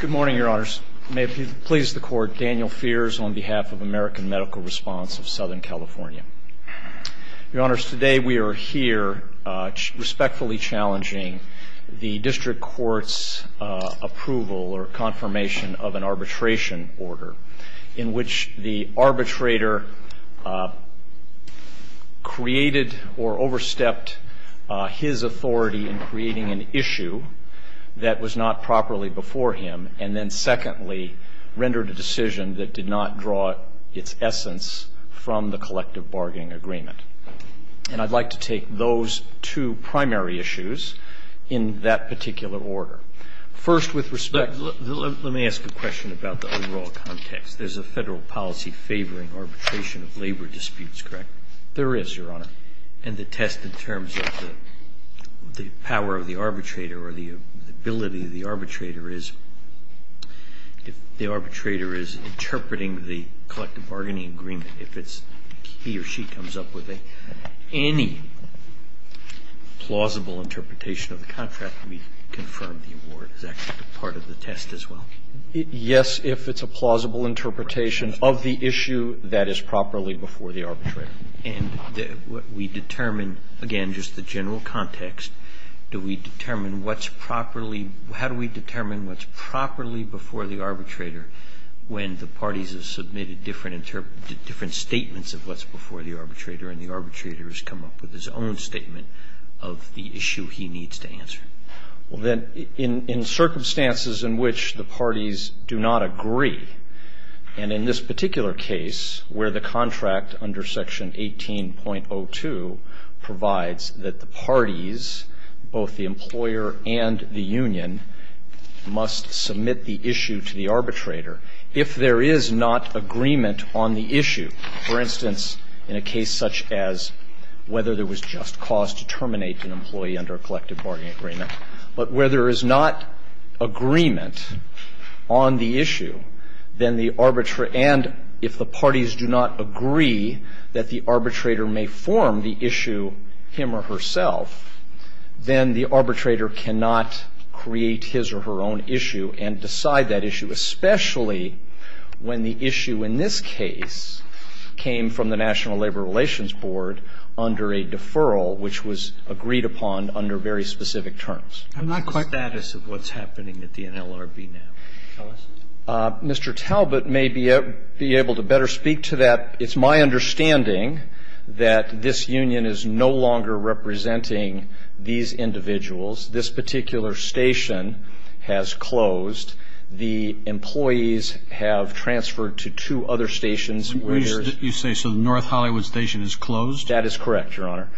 Good morning, Your Honors. May it please the Court, Daniel Fears on behalf of American Medical Response of Southern California. Your Honors, today we are here respectfully challenging the District Court's approval or confirmation of an arbitration order in which the arbitrator created or overstepped his authority in creating an issue that was not properly before him, and then secondly rendered a decision that did not draw its essence from the collective bargaining agreement. And I'd like to take those two primary issues in that particular order. First, with respect, let me ask a question about the overall context. There's a federal policy favoring arbitration of labor disputes, correct? There is, Your Honor. And the test in terms of the power of the arbitrator or the ability of the arbitrator is, if the arbitrator is interpreting the collective bargaining agreement, if he or she comes up with any plausible interpretation of the contract, can we confirm the award is actually part of the test as well? Yes, if it's a plausible interpretation of the issue that is properly before the arbitrator. And we determine, again, just the general context. Do we determine what's properly – how do we determine what's properly before the arbitrator when the parties have submitted different statements of what's before the arbitrator and the arbitrator has come up with his own statement of the issue he needs to answer? Well, then, in circumstances in which the parties do not agree, and in this particular case where the contract under Section 18.02 provides that the parties, both the employer and the union, must submit the issue to the arbitrator, if there is not agreement on the issue. For instance, in a case such as whether there was just cause to terminate an employee under a collective bargaining agreement. But where there is not agreement on the issue, then the – and if the parties do not agree that the arbitrator may form the issue him or herself, then the arbitrator cannot create his or her own issue and decide that issue, especially when the issue in this case came from the National Labor Relations Board under a deferral which was agreed upon under very specific terms. I'm not quite – What's the status of what's happening at the NLRB now? Tell us. Mr. Talbot may be able to better speak to that. It's my understanding that this union is no longer representing these individuals. This particular station has closed. The employees have transferred to two other stations where there's – You say so the North Hollywood station is closed? That is correct, Your Honor.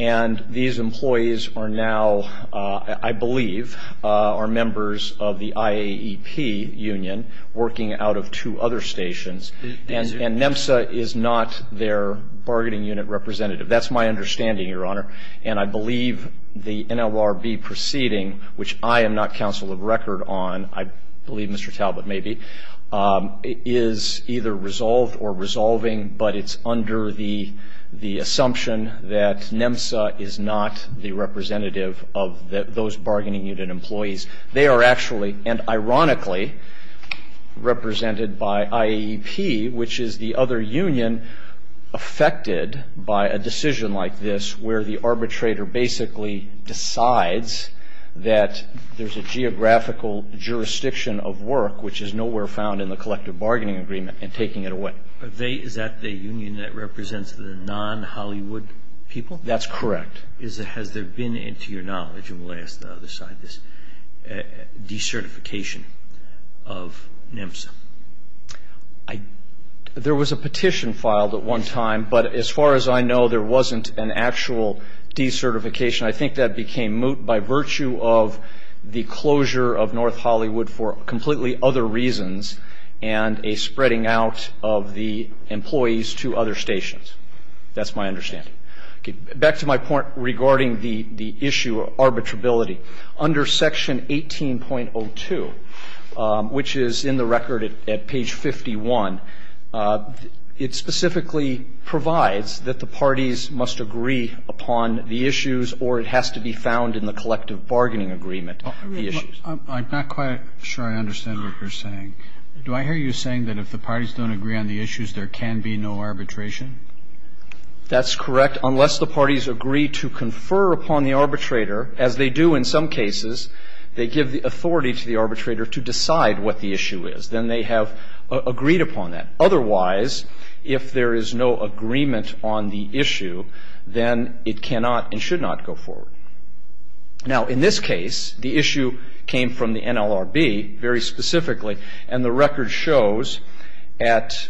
And these employees are now, I believe, are members of the IAEP union working out of two other stations. And NMSA is not their bargaining unit representative. That's my understanding, Your Honor. And I believe the NLRB proceeding, which I am not counsel of record on, I believe Mr. Talbot may be, is either resolved or resolving, but it's under the assumption that NMSA is not the representative of those bargaining unit employees. They are actually, and ironically, represented by IAEP, which is the other union affected by a decision like this where the arbitrator basically decides that there's a geographical jurisdiction of work, which is nowhere found in the collective bargaining agreement, and taking it away. Is that the union that represents the non-Hollywood people? That's correct. Has there been, to your knowledge, and we'll ask the other side this, decertification of NMSA? There was a petition filed at one time, but as far as I know, there wasn't an actual decertification. I think that became moot by virtue of the closure of North Hollywood for completely other reasons and a spreading out of the employees to other stations. That's my understanding. Back to my point regarding the issue of arbitrability. Under Section 18.02, which is in the record at page 51, it specifically provides that the parties must agree upon the issues or it has to be found in the collective bargaining agreement the issues. I'm not quite sure I understand what you're saying. Do I hear you saying that if the parties don't agree on the issues, there can be no arbitration? That's correct, unless the parties agree to confer upon the arbitrator, as they do in some cases, they give the authority to the arbitrator to decide what the issue is. Then they have agreed upon that. Otherwise, if there is no agreement on the issue, then it cannot and should not go forward. Now, in this case, the issue came from the NLRB very specifically, and the record shows at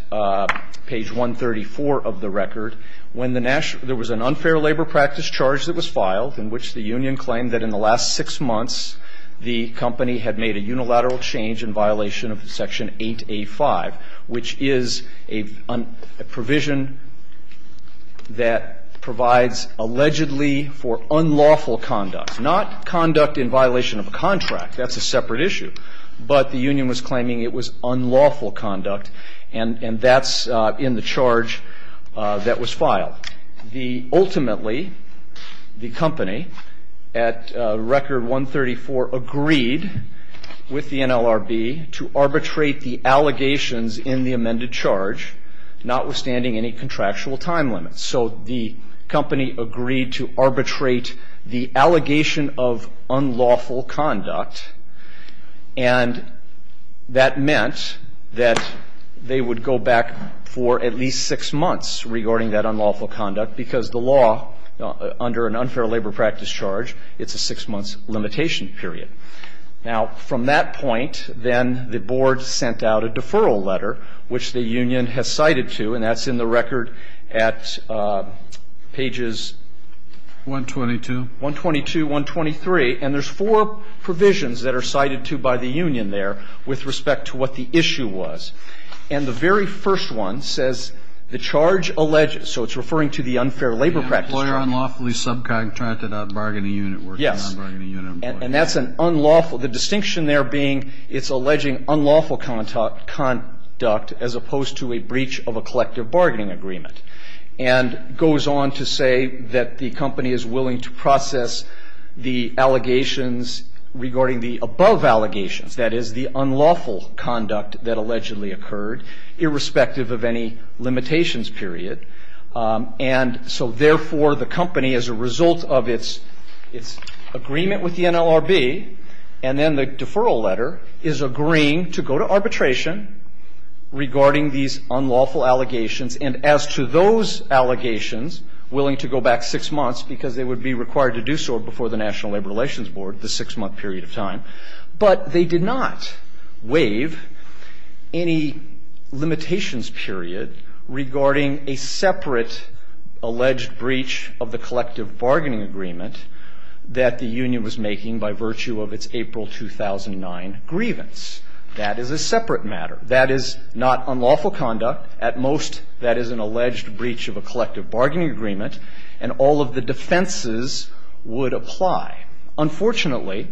page 134 of the record, there was an unfair labor practice charge that was filed in which the union claimed that in the last six months, the company had made a unilateral change in violation of Section 8A.5, which is a provision that provides allegedly for unlawful conduct, not conduct in violation of a contract. That's a separate issue. But the union was claiming it was unlawful conduct, and that's in the charge that was filed. Ultimately, the company, at record 134, agreed with the NLRB to arbitrate the allegations in the amended charge, notwithstanding any contractual time limits. So the company agreed to arbitrate the allegation of unlawful conduct, and that meant that they would go back for at least six months regarding that unlawful conduct, because the law, under an unfair labor practice charge, it's a six-month limitation period. Now, from that point, then the Board sent out a deferral letter, which the union has cited to, and that's in the record at pages 122, 123. And there's four provisions that are cited to by the union there with respect to what the issue was. And the very first one says the charge alleges, so it's referring to the unfair labor practice charge. Kennedy. Employer unlawfully subcontracted a bargaining unit working on a bargaining unit employee. Yes. And that's an unlawful, the distinction there being it's alleging unlawful conduct as opposed to a breach of a collective bargaining agreement, and goes on to say that the company is willing to process the allegations regarding the above allegations, that is, the unlawful conduct that allegedly occurred, irrespective of any limitations period. And so, therefore, the company, as a result of its agreement with the NLRB, and then the deferral letter, is agreeing to go to arbitration regarding these unlawful allegations, and as to those allegations, willing to go back six months because they would be required to do so before the National Labor Relations Board, the six month period of time, but they did not waive any limitations period regarding a separate alleged breach of the collective bargaining agreement that the union was making by virtue of its April 2009 grievance. That is a separate matter. That is not unlawful conduct. At most, that is an alleged breach of a collective bargaining agreement, and all of the defenses would apply. Unfortunately,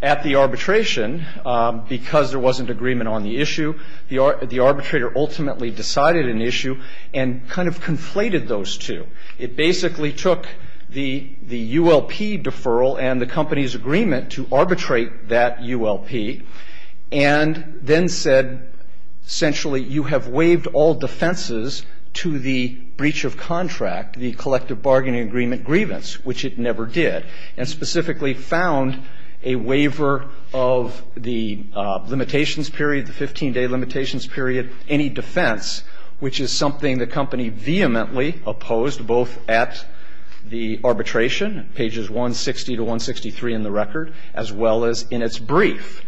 at the arbitration, because there wasn't agreement on the issue, the arbitrator ultimately decided an issue and kind of conflated those two. It basically took the ULP deferral and the company's agreement to arbitrate that and then said, essentially, you have waived all defenses to the breach of contract, the collective bargaining agreement grievance, which it never did, and specifically found a waiver of the limitations period, the 15-day limitations period, any defense, which is something the company vehemently opposed, both at the arbitration, pages 160 to 163 in the record, as well as in its brief.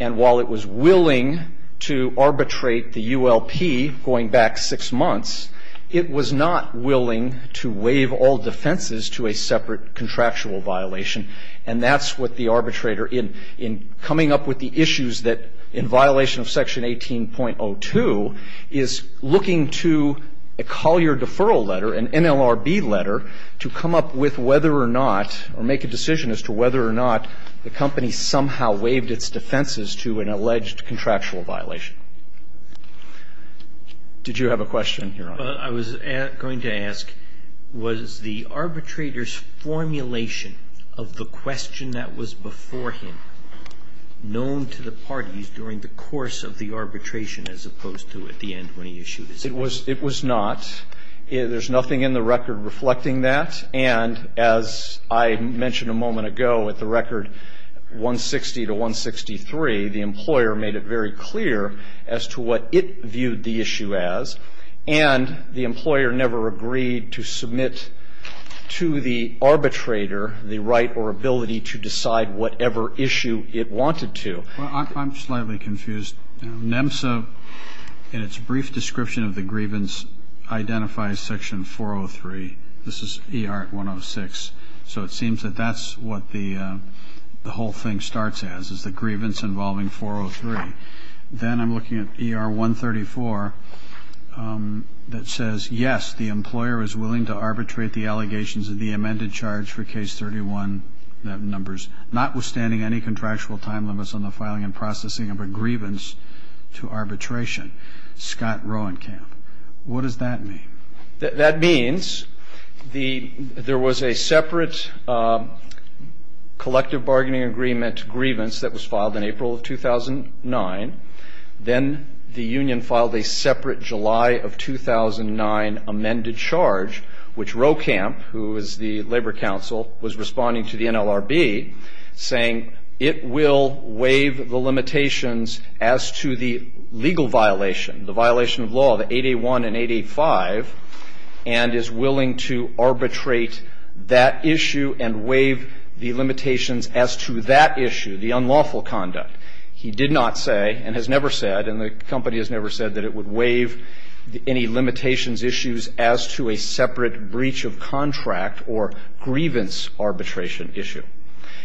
And while it was willing to arbitrate the ULP going back six months, it was not willing to waive all defenses to a separate contractual violation. And that's what the arbitrator, in coming up with the issues that, in violation of section 18.02, is looking to a Collier deferral letter, an NLRB letter, to come up with whether or not, or make a decision as to whether or not the company somehow waived its defenses to an alleged contractual violation. Did you have a question, Your Honor? I was going to ask, was the arbitrator's formulation of the question that was before him known to the parties during the course of the arbitration as opposed to at the end when he issued his statement? It was not. There's nothing in the record reflecting that. And as I mentioned a moment ago, at the record 160 to 163, the employer made it very clear as to what it viewed the issue as, and the employer never agreed to submit to the arbitrator the right or ability to decide whatever issue it wanted to. Well, I'm slightly confused. NEMSA, in its brief description of the grievance, identifies Section 403. This is ER 106. So it seems that that's what the whole thing starts as, is the grievance involving 403. Then I'm looking at ER 134 that says, yes, the employer is willing to arbitrate the allegations of the amended charge for Case 31, notwithstanding any contractual time limits on the filing and processing of a grievance to arbitration. Scott Roenkamp. What does that mean? That means there was a separate collective bargaining agreement grievance that was filed in April of 2009. Then the union filed a separate July of 2009 amended charge, which Roenkamp, who is a lawyer, has never said that it will waive the limitations as to the legal violation, the violation of law, the 8A1 and 8A5, and is willing to arbitrate that issue and waive the limitations as to that issue, the unlawful conduct. He did not say, and has never said, and the company has never said that it would waive any limitations issues as to a separate breach of contract or grievance arbitration issue.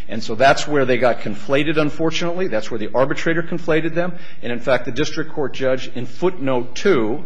And so that's where they got conflated, unfortunately. That's where the arbitrator conflated them. And, in fact, the district court judge in footnote 2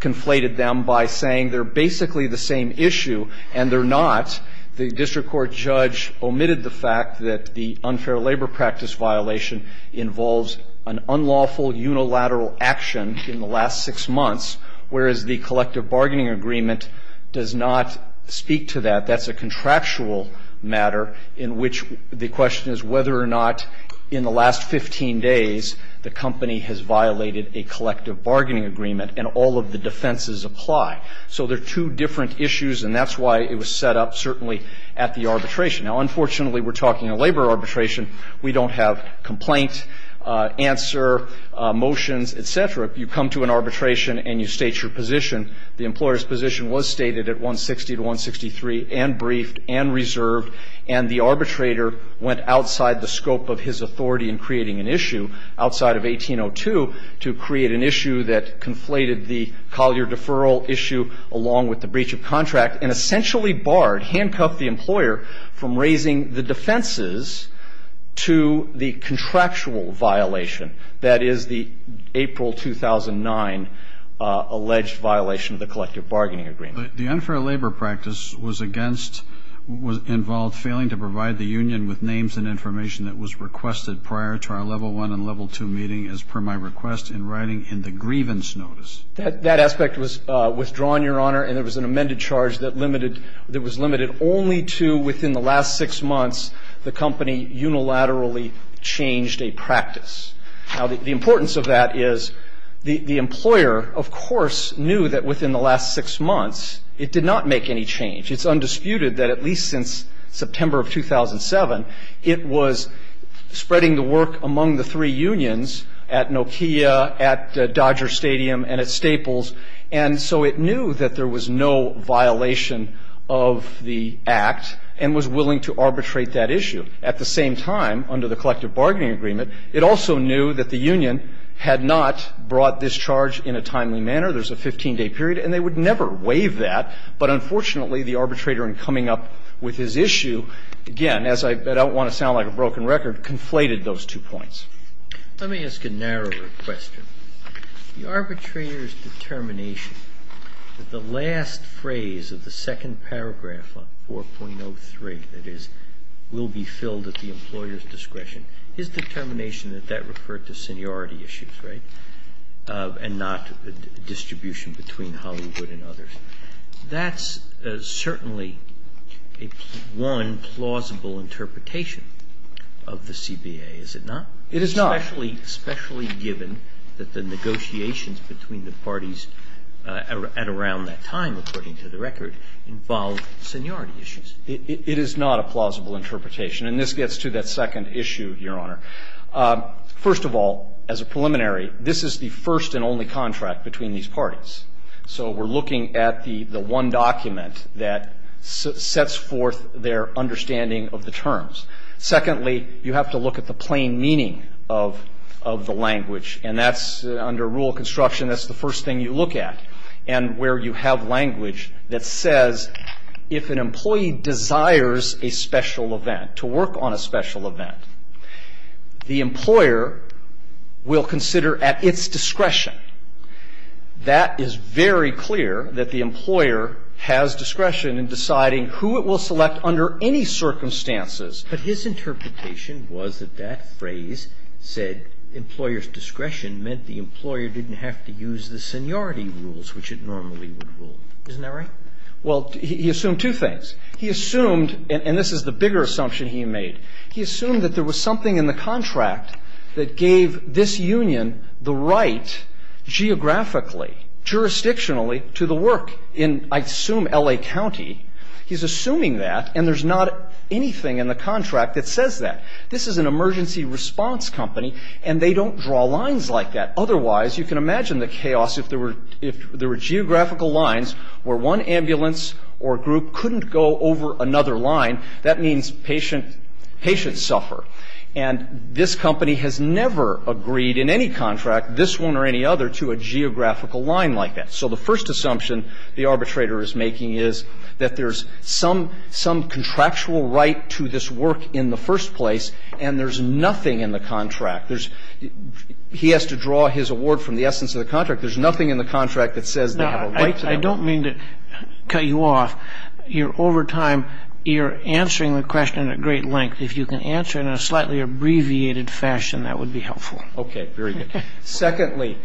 conflated them by saying they're basically the same issue and they're not. The district court judge omitted the fact that the unfair labor practice violation involves an unlawful unilateral action in the last six months, whereas the collective bargaining agreement does not speak to that. That's a contractual matter in which the question is whether or not in the last 15 days the company has violated a collective bargaining agreement and all of the defenses apply. So they're two different issues, and that's why it was set up certainly at the arbitration. Now, unfortunately, we're talking a labor arbitration. We don't have complaint, answer, motions, et cetera. You come to an arbitration and you state your position. The employer's position was stated at 160 to 163 and briefed and reserved, and the arbitrator went outside the scope of his authority in creating an issue outside of 1802 to create an issue that conflated the collier deferral issue along with the contractual violation, that is, the April 2009 alleged violation of the collective bargaining agreement. The unfair labor practice was against, was involved failing to provide the union with names and information that was requested prior to our level one and level two meeting as per my request in writing in the grievance notice. That aspect was withdrawn, Your Honor, and there was an amended charge that limited only to within the last six months the company unilaterally changed a practice. Now, the importance of that is the employer, of course, knew that within the last six months it did not make any change. It's undisputed that at least since September of 2007 it was spreading the work among the three unions at Nokia, at Dodger Stadium, and at Staples, and so it knew that there was no violation of the act and was willing to arbitrate that issue. At the same time, under the collective bargaining agreement, it also knew that the union had not brought this charge in a timely manner. There's a 15-day period, and they would never waive that. But unfortunately, the arbitrator in coming up with his issue, again, as I don't want to sound like a broken record, conflated those two points. Let me ask a narrower question. The arbitrator's determination that the last phrase of the second paragraph on 4.03, that is, will be filled at the employer's discretion, his determination that that referred to seniority issues, right, and not distribution between Hollywood and others, that's certainly one plausible interpretation of the CBA, is it not? It is not. Especially given that the negotiations between the parties at around that time, according to the record, involved seniority issues. It is not a plausible interpretation. And this gets to that second issue, Your Honor. First of all, as a preliminary, this is the first and only contract between these parties. So we're looking at the one document that sets forth their understanding of the terms. Secondly, you have to look at the plain meaning of the language. And that's, under rule of construction, that's the first thing you look at, and where you have language that says if an employee desires a special event, to work on a special event, the employer will consider at its discretion. That is very clear, that the employer has discretion in deciding who it will select under any circumstances. But his interpretation was that that phrase said employer's discretion meant the employer didn't have to use the seniority rules, which it normally would rule. Isn't that right? Well, he assumed two things. He assumed, and this is the bigger assumption he made, he assumed that there was something in the contract that gave this union the right geographically, jurisdictionally, to the work in, I assume, L.A. County. He's assuming that, and there's not anything in the contract that says that. This is an emergency response company, and they don't draw lines like that. Otherwise, you can imagine the chaos if there were geographical lines where one ambulance or group couldn't go over another line. That means patients suffer. And this company has never agreed in any contract, this one or any other, to a geographical line like that. So the first assumption the arbitrator is making is that there's some contractual right to this work in the first place, and there's nothing in the contract. There's he has to draw his award from the essence of the contract. There's nothing in the contract that says they have a right to that. I don't mean to cut you off. Over time, you're answering the question at great length. If you can answer it in a slightly abbreviated fashion, that would be helpful. Okay. Very good. Secondly,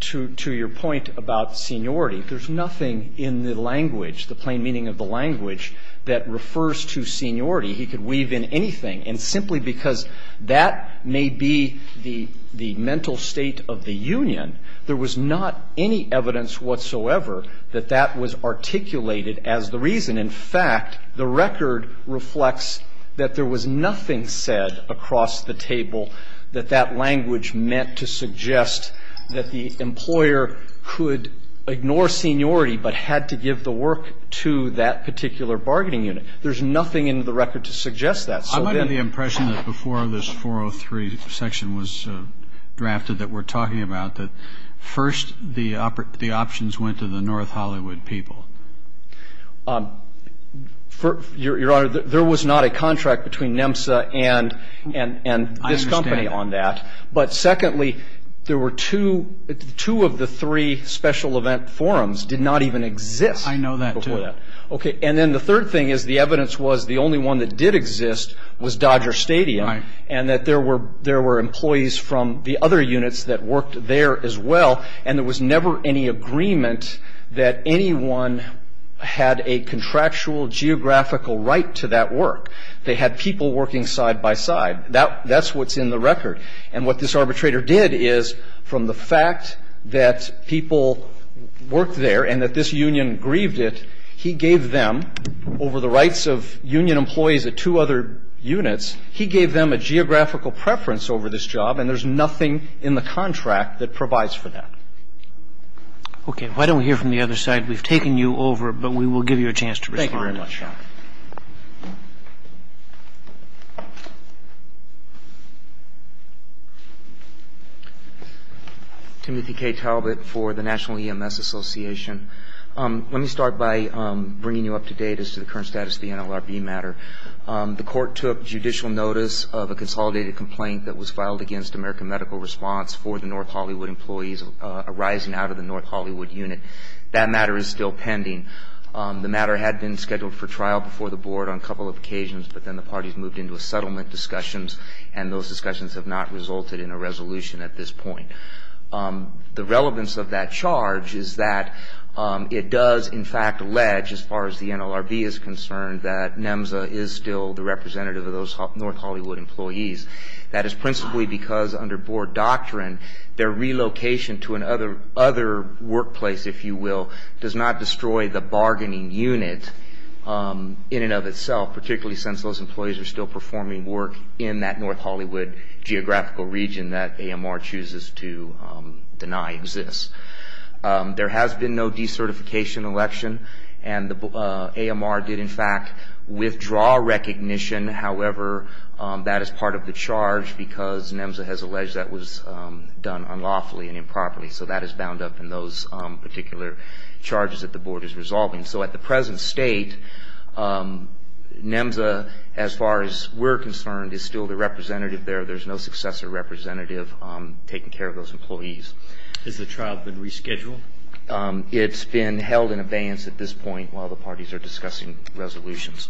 to your point about seniority, there's nothing in the language, the plain meaning of the language, that refers to seniority. He could weave in anything, and simply because that may be the mental state of the union, there was not any evidence whatsoever that that was articulated as the reason. In fact, the record reflects that there was nothing said across the table that that was meant to suggest that the employer could ignore seniority but had to give the work to that particular bargaining unit. There's nothing in the record to suggest that. I might have the impression that before this 403 section was drafted that we're talking about that first the options went to the North Hollywood people. Your Honor, there was not a contract between NEMSA and this company on that. But secondly, two of the three special event forums did not even exist before that. I know that, too. Okay. Then the third thing is the evidence was the only one that did exist was Dodger Stadium, and that there were employees from the other units that worked there as well, and there was never any agreement that anyone had a contractual geographical right to that work. They had people working side by side. That's what's in the record. And what this arbitrator did is, from the fact that people worked there and that this union grieved it, he gave them, over the rights of union employees at two other units, he gave them a geographical preference over this job, and there's nothing in the contract that provides for that. Okay. Why don't we hear from the other side? We've taken you over, but we will give you a chance to respond. Thank you very much, Your Honor. Timothy K. Talbot for the National EMS Association. Let me start by bringing you up to date as to the current status of the NLRB matter. The court took judicial notice of a consolidated complaint that was filed against American Medical Response for the North Hollywood employees arising out of the North Hollywood unit. That matter is still pending. The matter had been scheduled for trial before the board on a couple of occasions, but then the parties moved into a settlement discussions, and those discussions have not resulted in a resolution at this point. The relevance of that charge is that it does, in fact, allege, as far as the NLRB is concerned, that NEMSA is still the representative of those North Hollywood employees. That is principally because, under board doctrine, their relocation to another workplace, if you will, does not destroy the bargaining unit in and of itself, particularly since those employees are still performing work in that North Hollywood geographical region that AMR chooses to deny exists. There has been no decertification election, and AMR did, in fact, withdraw recognition. However, that is part of the charge because NEMSA has alleged that was done unlawfully and improperly, so that is bound up in those particular charges that the board is resolving. So at the present state, NEMSA, as far as we're concerned, is still the representative there. There's no successor representative taking care of those employees. Has the trial been rescheduled? It's been held in abeyance at this point while the parties are discussing resolutions.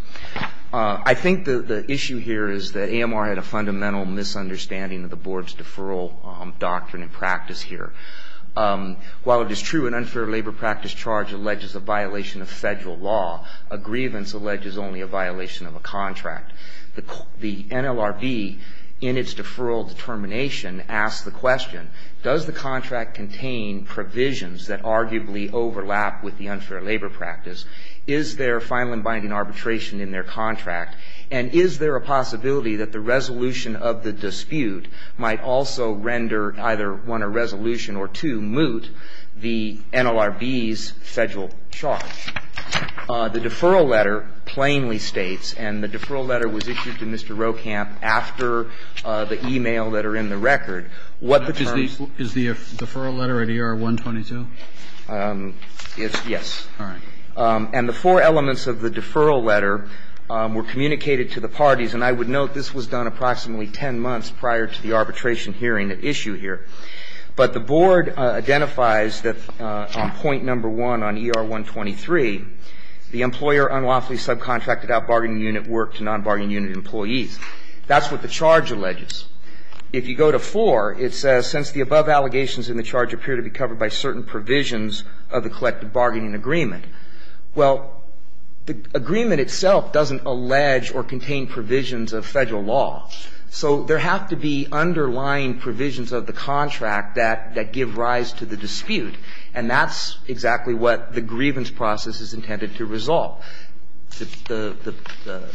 I think the issue here is that AMR had a fundamental misunderstanding of the practice here. While it is true an unfair labor practice charge alleges a violation of federal law, a grievance alleges only a violation of a contract. The NLRB, in its deferral determination, asks the question, does the contract contain provisions that arguably overlap with the unfair labor practice? Is there final and binding arbitration in their contract? And is there a possibility that the resolution of the dispute might also render either one or resolution or two moot the NLRB's federal charge? The deferral letter plainly states, and the deferral letter was issued to Mr. Rohkamp after the e-mail that are in the record, what the terms of the deferral letter at ER-122? Yes. All right. And the four elements of the deferral letter were communicated to the parties, and I would note this was done approximately 10 months prior to the arbitration hearing at issue here. But the board identifies that on point number 1 on ER-123, the employer unlawfully subcontracted out bargaining unit work to non-bargaining unit employees. That's what the charge alleges. If you go to 4, it says, since the above allegations in the charge appear to be covered by certain provisions of the collective bargaining agreement. Well, the agreement itself doesn't allege or contain provisions of federal law. So there have to be underlying provisions of the contract that give rise to the dispute. And that's exactly what the grievance process is intended to resolve. The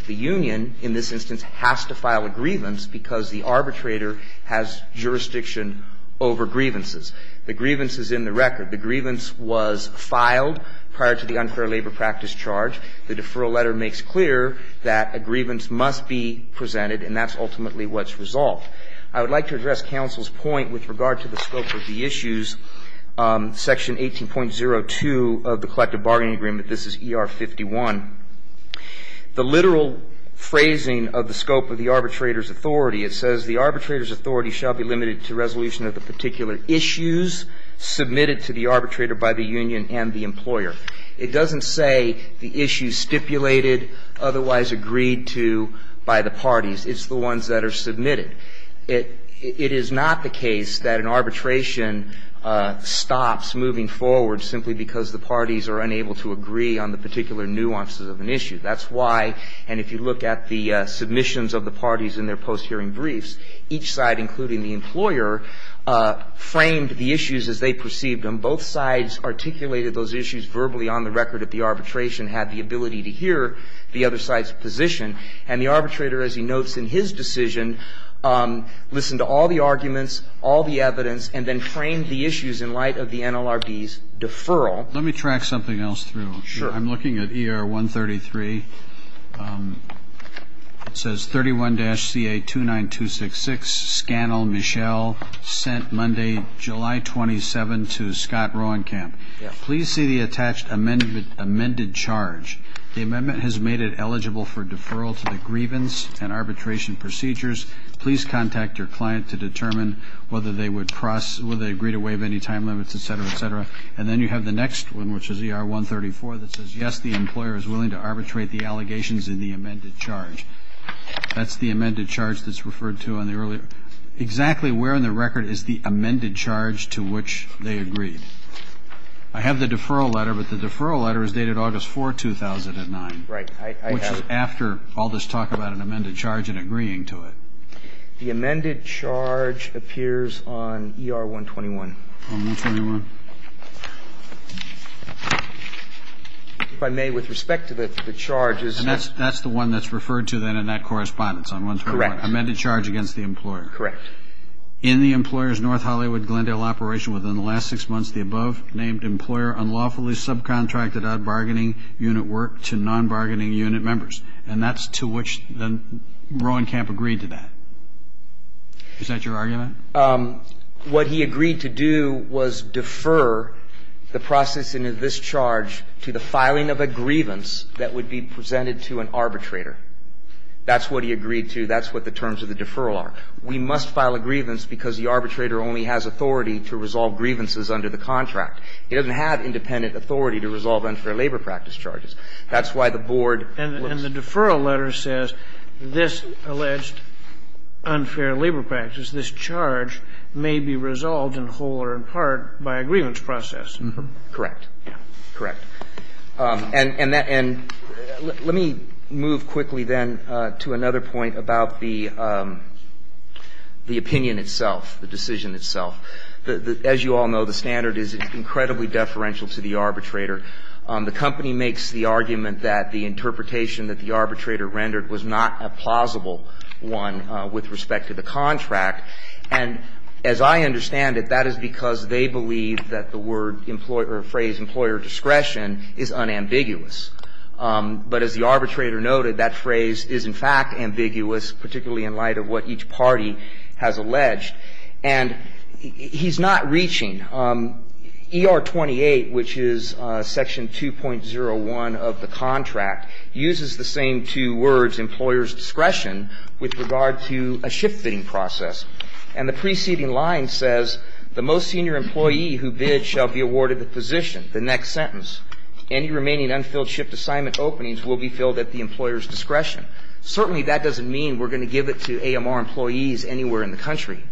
union in this instance has to file a grievance because the arbitrator has jurisdiction over grievances. The grievance is in the record. The grievance was filed prior to the unfair labor practice charge. The deferral letter makes clear that a grievance must be presented, and that's ultimately what's resolved. I would like to address counsel's point with regard to the scope of the issues, section 18.02 of the collective bargaining agreement. This is ER-51. The literal phrasing of the scope of the arbitrator's authority, it says, the arbitrator's authority shall be limited to resolution of the particular issues submitted to the arbitrator by the union and the employer. It doesn't say the issues stipulated, otherwise agreed to by the parties. It's the ones that are submitted. It is not the case that an arbitration stops moving forward simply because the parties are unable to agree on the particular nuances of an issue. That's why, and if you look at the submissions of the parties in their post-hearing briefs, each side, including the employer, framed the issues as they perceived them. Both sides articulated those issues verbally on the record that the arbitration had the ability to hear the other side's position. And the arbitrator, as he notes in his decision, listened to all the arguments, all the evidence, and then framed the issues in light of the NLRB's deferral. Let me track something else through. Sure. I'm looking at ER-133. It says, 31-CA-29266, Scannell, Michelle, sent Monday, July 27, to Scott Rohenkamp. Please see the attached amended charge. The amendment has made it eligible for deferral to the grievance and arbitration procedures. Please contact your client to determine whether they would agree to waive any time limits, et cetera, et cetera. And then you have the next one, which is ER-134, that says, yes, the employer is willing to arbitrate the allegations in the amended charge. That's the amended charge that's referred to on the earlier. Exactly where on the record is the amended charge to which they agreed? I have the deferral letter, but the deferral letter is dated August 4, 2009. Right. I have it. Which is after all this talk about an amended charge and agreeing to it. The amended charge appears on ER-121. On 121. If I may, with respect to the charges. And that's the one that's referred to then in that correspondence on 121. Correct. Amended charge against the employer. Correct. In the employer's North Hollywood Glendale operation within the last six months, the above-named employer unlawfully subcontracted out bargaining unit work to non-bargaining unit members. And that's to which Rohenkamp agreed to that. Is that your argument? What he agreed to do was defer the processing of this charge to the filing of a grievance that would be presented to an arbitrator. That's what he agreed to. That's what the terms of the deferral are. We must file a grievance because the arbitrator only has authority to resolve grievances under the contract. He doesn't have independent authority to resolve unfair labor practice charges. That's why the board was. And the deferral letter says this alleged unfair labor practice, this charge, may be resolved in whole or in part by a grievance process. Correct. Correct. And let me move quickly then to another point about the opinion itself, the decision itself. As you all know, the standard is incredibly deferential to the arbitrator. The company makes the argument that the interpretation that the arbitrator rendered was not a plausible one with respect to the contract. And as I understand it, that is because they believe that the word or phrase employer discretion is unambiguous. But as the arbitrator noted, that phrase is in fact ambiguous, particularly in light of what each party has alleged. And he's not reaching. ER-28, which is section 2.01 of the contract, uses the same two words, employer's discretion, with regard to a shift fitting process. And the preceding line says, the most senior employee who bid shall be awarded the position. The next sentence, any remaining unfilled shift assignment openings will be filled at the employer's discretion. Certainly that doesn't mean we're going to give it to AMR employees anywhere in the country.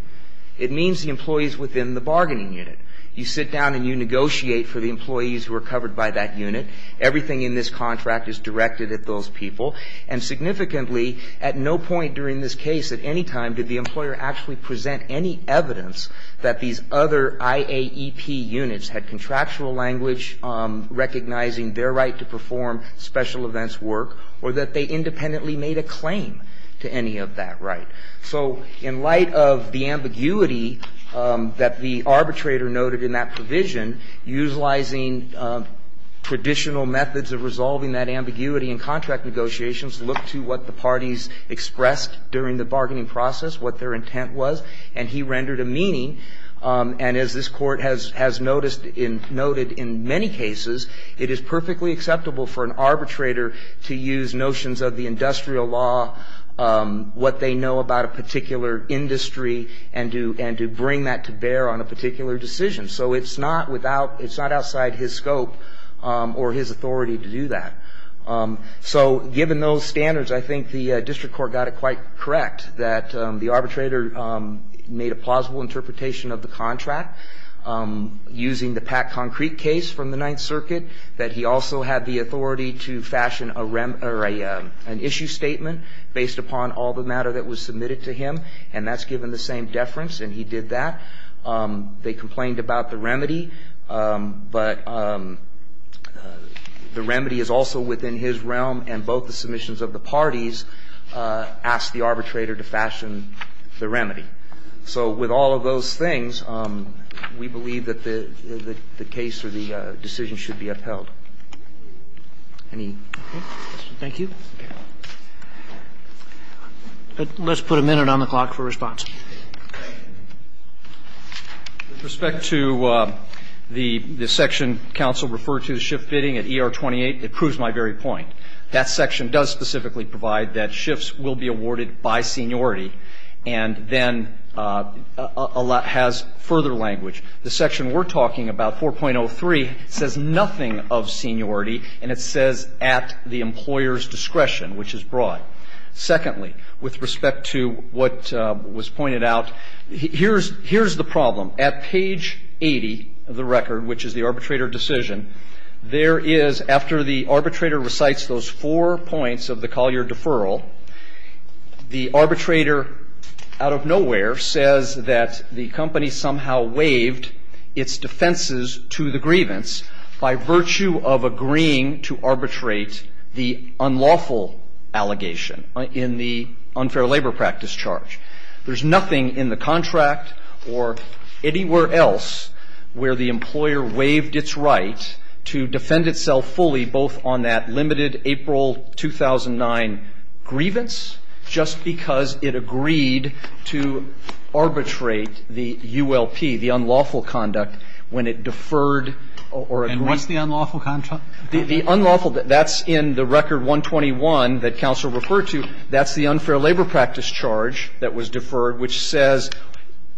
It means the employees within the bargaining unit. You sit down and you negotiate for the employees who are covered by that unit. Everything in this contract is directed at those people. And significantly, at no point during this case at any time did the employer actually present any evidence that these other IAEP units had contractual language recognizing their right to perform special events work or that they independently made a claim to any of that right. So in light of the ambiguity that the arbitrator noted in that provision, utilizing traditional methods of resolving that ambiguity in contract negotiations looked to what the parties expressed during the bargaining process, what their intent was. And he rendered a meaning. And as this Court has noticed and noted in many cases, it is perfectly acceptable for an arbitrator to use notions of the industrial law, what they know about a particular industry, and to bring that to bear on a particular decision. So it's not outside his scope or his authority to do that. So given those standards, I think the District Court got it quite correct that the arbitrator made a plausible interpretation of the contract using the PAC concrete case from the Ninth Circuit, that he also had the authority to fashion an issue statement based upon all the matter that was submitted to him. And that's given the same deference, and he did that. They complained about the remedy. But the remedy is also within his realm, and both the submissions of the parties asked the arbitrator to fashion the remedy. So with all of those things, we believe that the case or the decision should be upheld. Any other questions? Thank you. Let's put a minute on the clock for response. With respect to the section counsel referred to, the shift bidding at ER-28, it proves my very point. That section does specifically provide that shifts will be awarded by seniority and then has further language. The section we're talking about, 4.03, says nothing of seniority, and it says at the employer's discretion, which is broad. Secondly, with respect to what was pointed out, here's the problem. At page 80 of the record, which is the arbitrator decision, there is, after the arbitrator recites those four points of the Collier deferral, the arbitrator out of nowhere says that the company somehow waived its defenses to the grievance by virtue of agreeing to arbitrate the unlawful allegation in the unfair labor practice charge. There's nothing in the contract or anywhere else where the employer waived its right to defend itself fully both on that limited April 2009 grievance just because it agreed to arbitrate the ULP, the unlawful conduct, when it deferred or agreed. And what's the unlawful contract? The unlawful, that's in the record 121 that counsel referred to, that's the unfair labor practice charge that was deferred, which says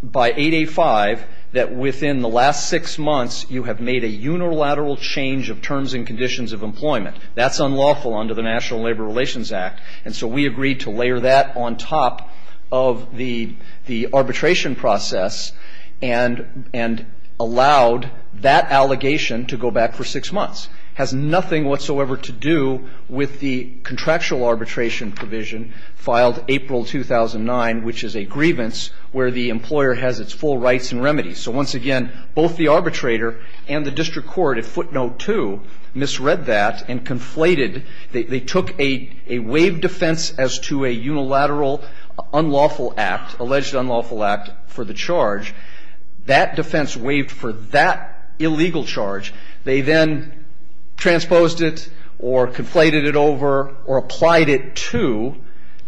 by 8A-5 that within the last six months you have made a unilateral change of terms and conditions of employment. That's unlawful under the National Labor Relations Act. And so we agreed to layer that on top of the arbitration process and allowed that allegation to go back for six months. It has nothing whatsoever to do with the contractual arbitration provision filed April 2009, which is a grievance where the employer has its full rights and remedies. So once again, both the arbitrator and the district court at footnote 2 misread that and conflated, they took a waived defense as to a unilateral unlawful act, alleged unlawful act for the charge. That defense waived for that illegal charge. They then transposed it or conflated it over or applied it to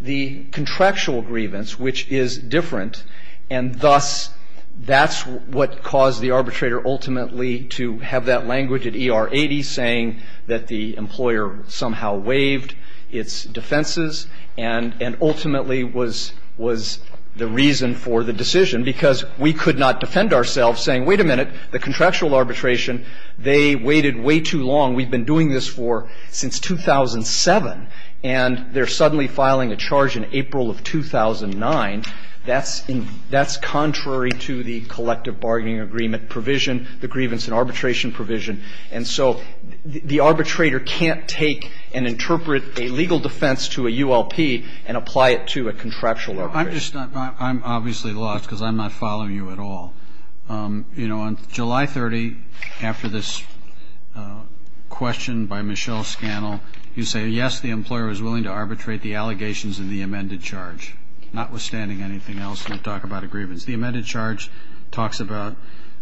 the contractual grievance, which is different, and thus that's what caused the arbitrator ultimately to have that language at ER 80 saying that the employer somehow waived its defenses and ultimately was the reason for the decision, because we could not defend ourselves saying, wait a minute, the contractual arbitration, they waited way too long, we've been doing this for since 2007, and they're suddenly filing a charge in April of 2009. That's contrary to the collective bargaining agreement provision, the grievance and arbitration provision, and so the arbitrator can't take and interpret a legal defense to a ULP and apply it to a contractual arbitration. I'm obviously lost because I'm not following you at all. You know, on July 30, after this question by Michelle Scannell, you say, yes, the employer was willing to arbitrate the allegations in the amended charge, notwithstanding anything else when you talk about agreements. The amended charge talks about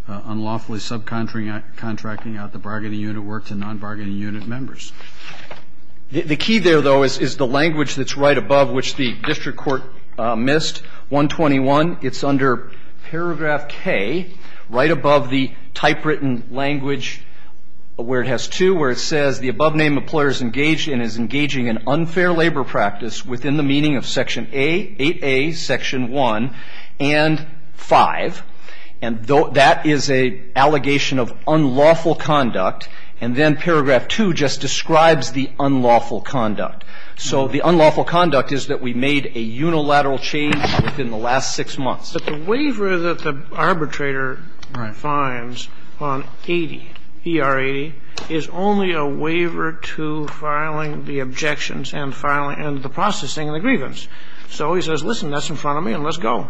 unlawfully subcontracting out the bargaining unit work to non-bargaining unit members. The key there, though, is the language that's right above, which the district court missed, 121. It's under paragraph K, right above the typewritten language where it has two, where it says the above name employer is engaged in is engaging in unfair labor practice within the meaning of section A, 8A, section 1, and 5. And that is an allegation of unlawful conduct. And then paragraph 2 just describes the unlawful conduct. So the unlawful conduct is that we made a unilateral change within the last six months. But the waiver that the arbitrator finds on 80, ER 80, is only a waiver to filing the objections and the processing of the grievance. So he says, listen, that's in front of me, and let's go,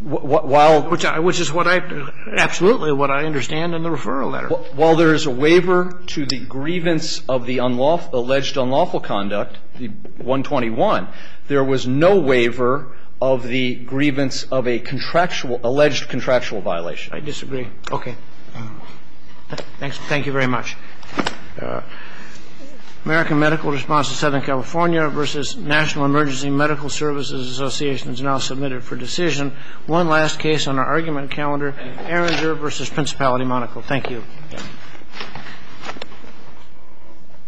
which is what I, absolutely, what I understand in the referral letter. While there is a waiver to the grievance of the alleged unlawful conduct, the 121, there was no waiver of the grievance of a contractual, alleged contractual violation. I disagree. Okay. Thank you very much. American Medical Response to Southern California versus National Emergency Medical Services Association is now submitted for decision. One last case on our argument calendar, Erringer versus Principality Monaco. Thank you.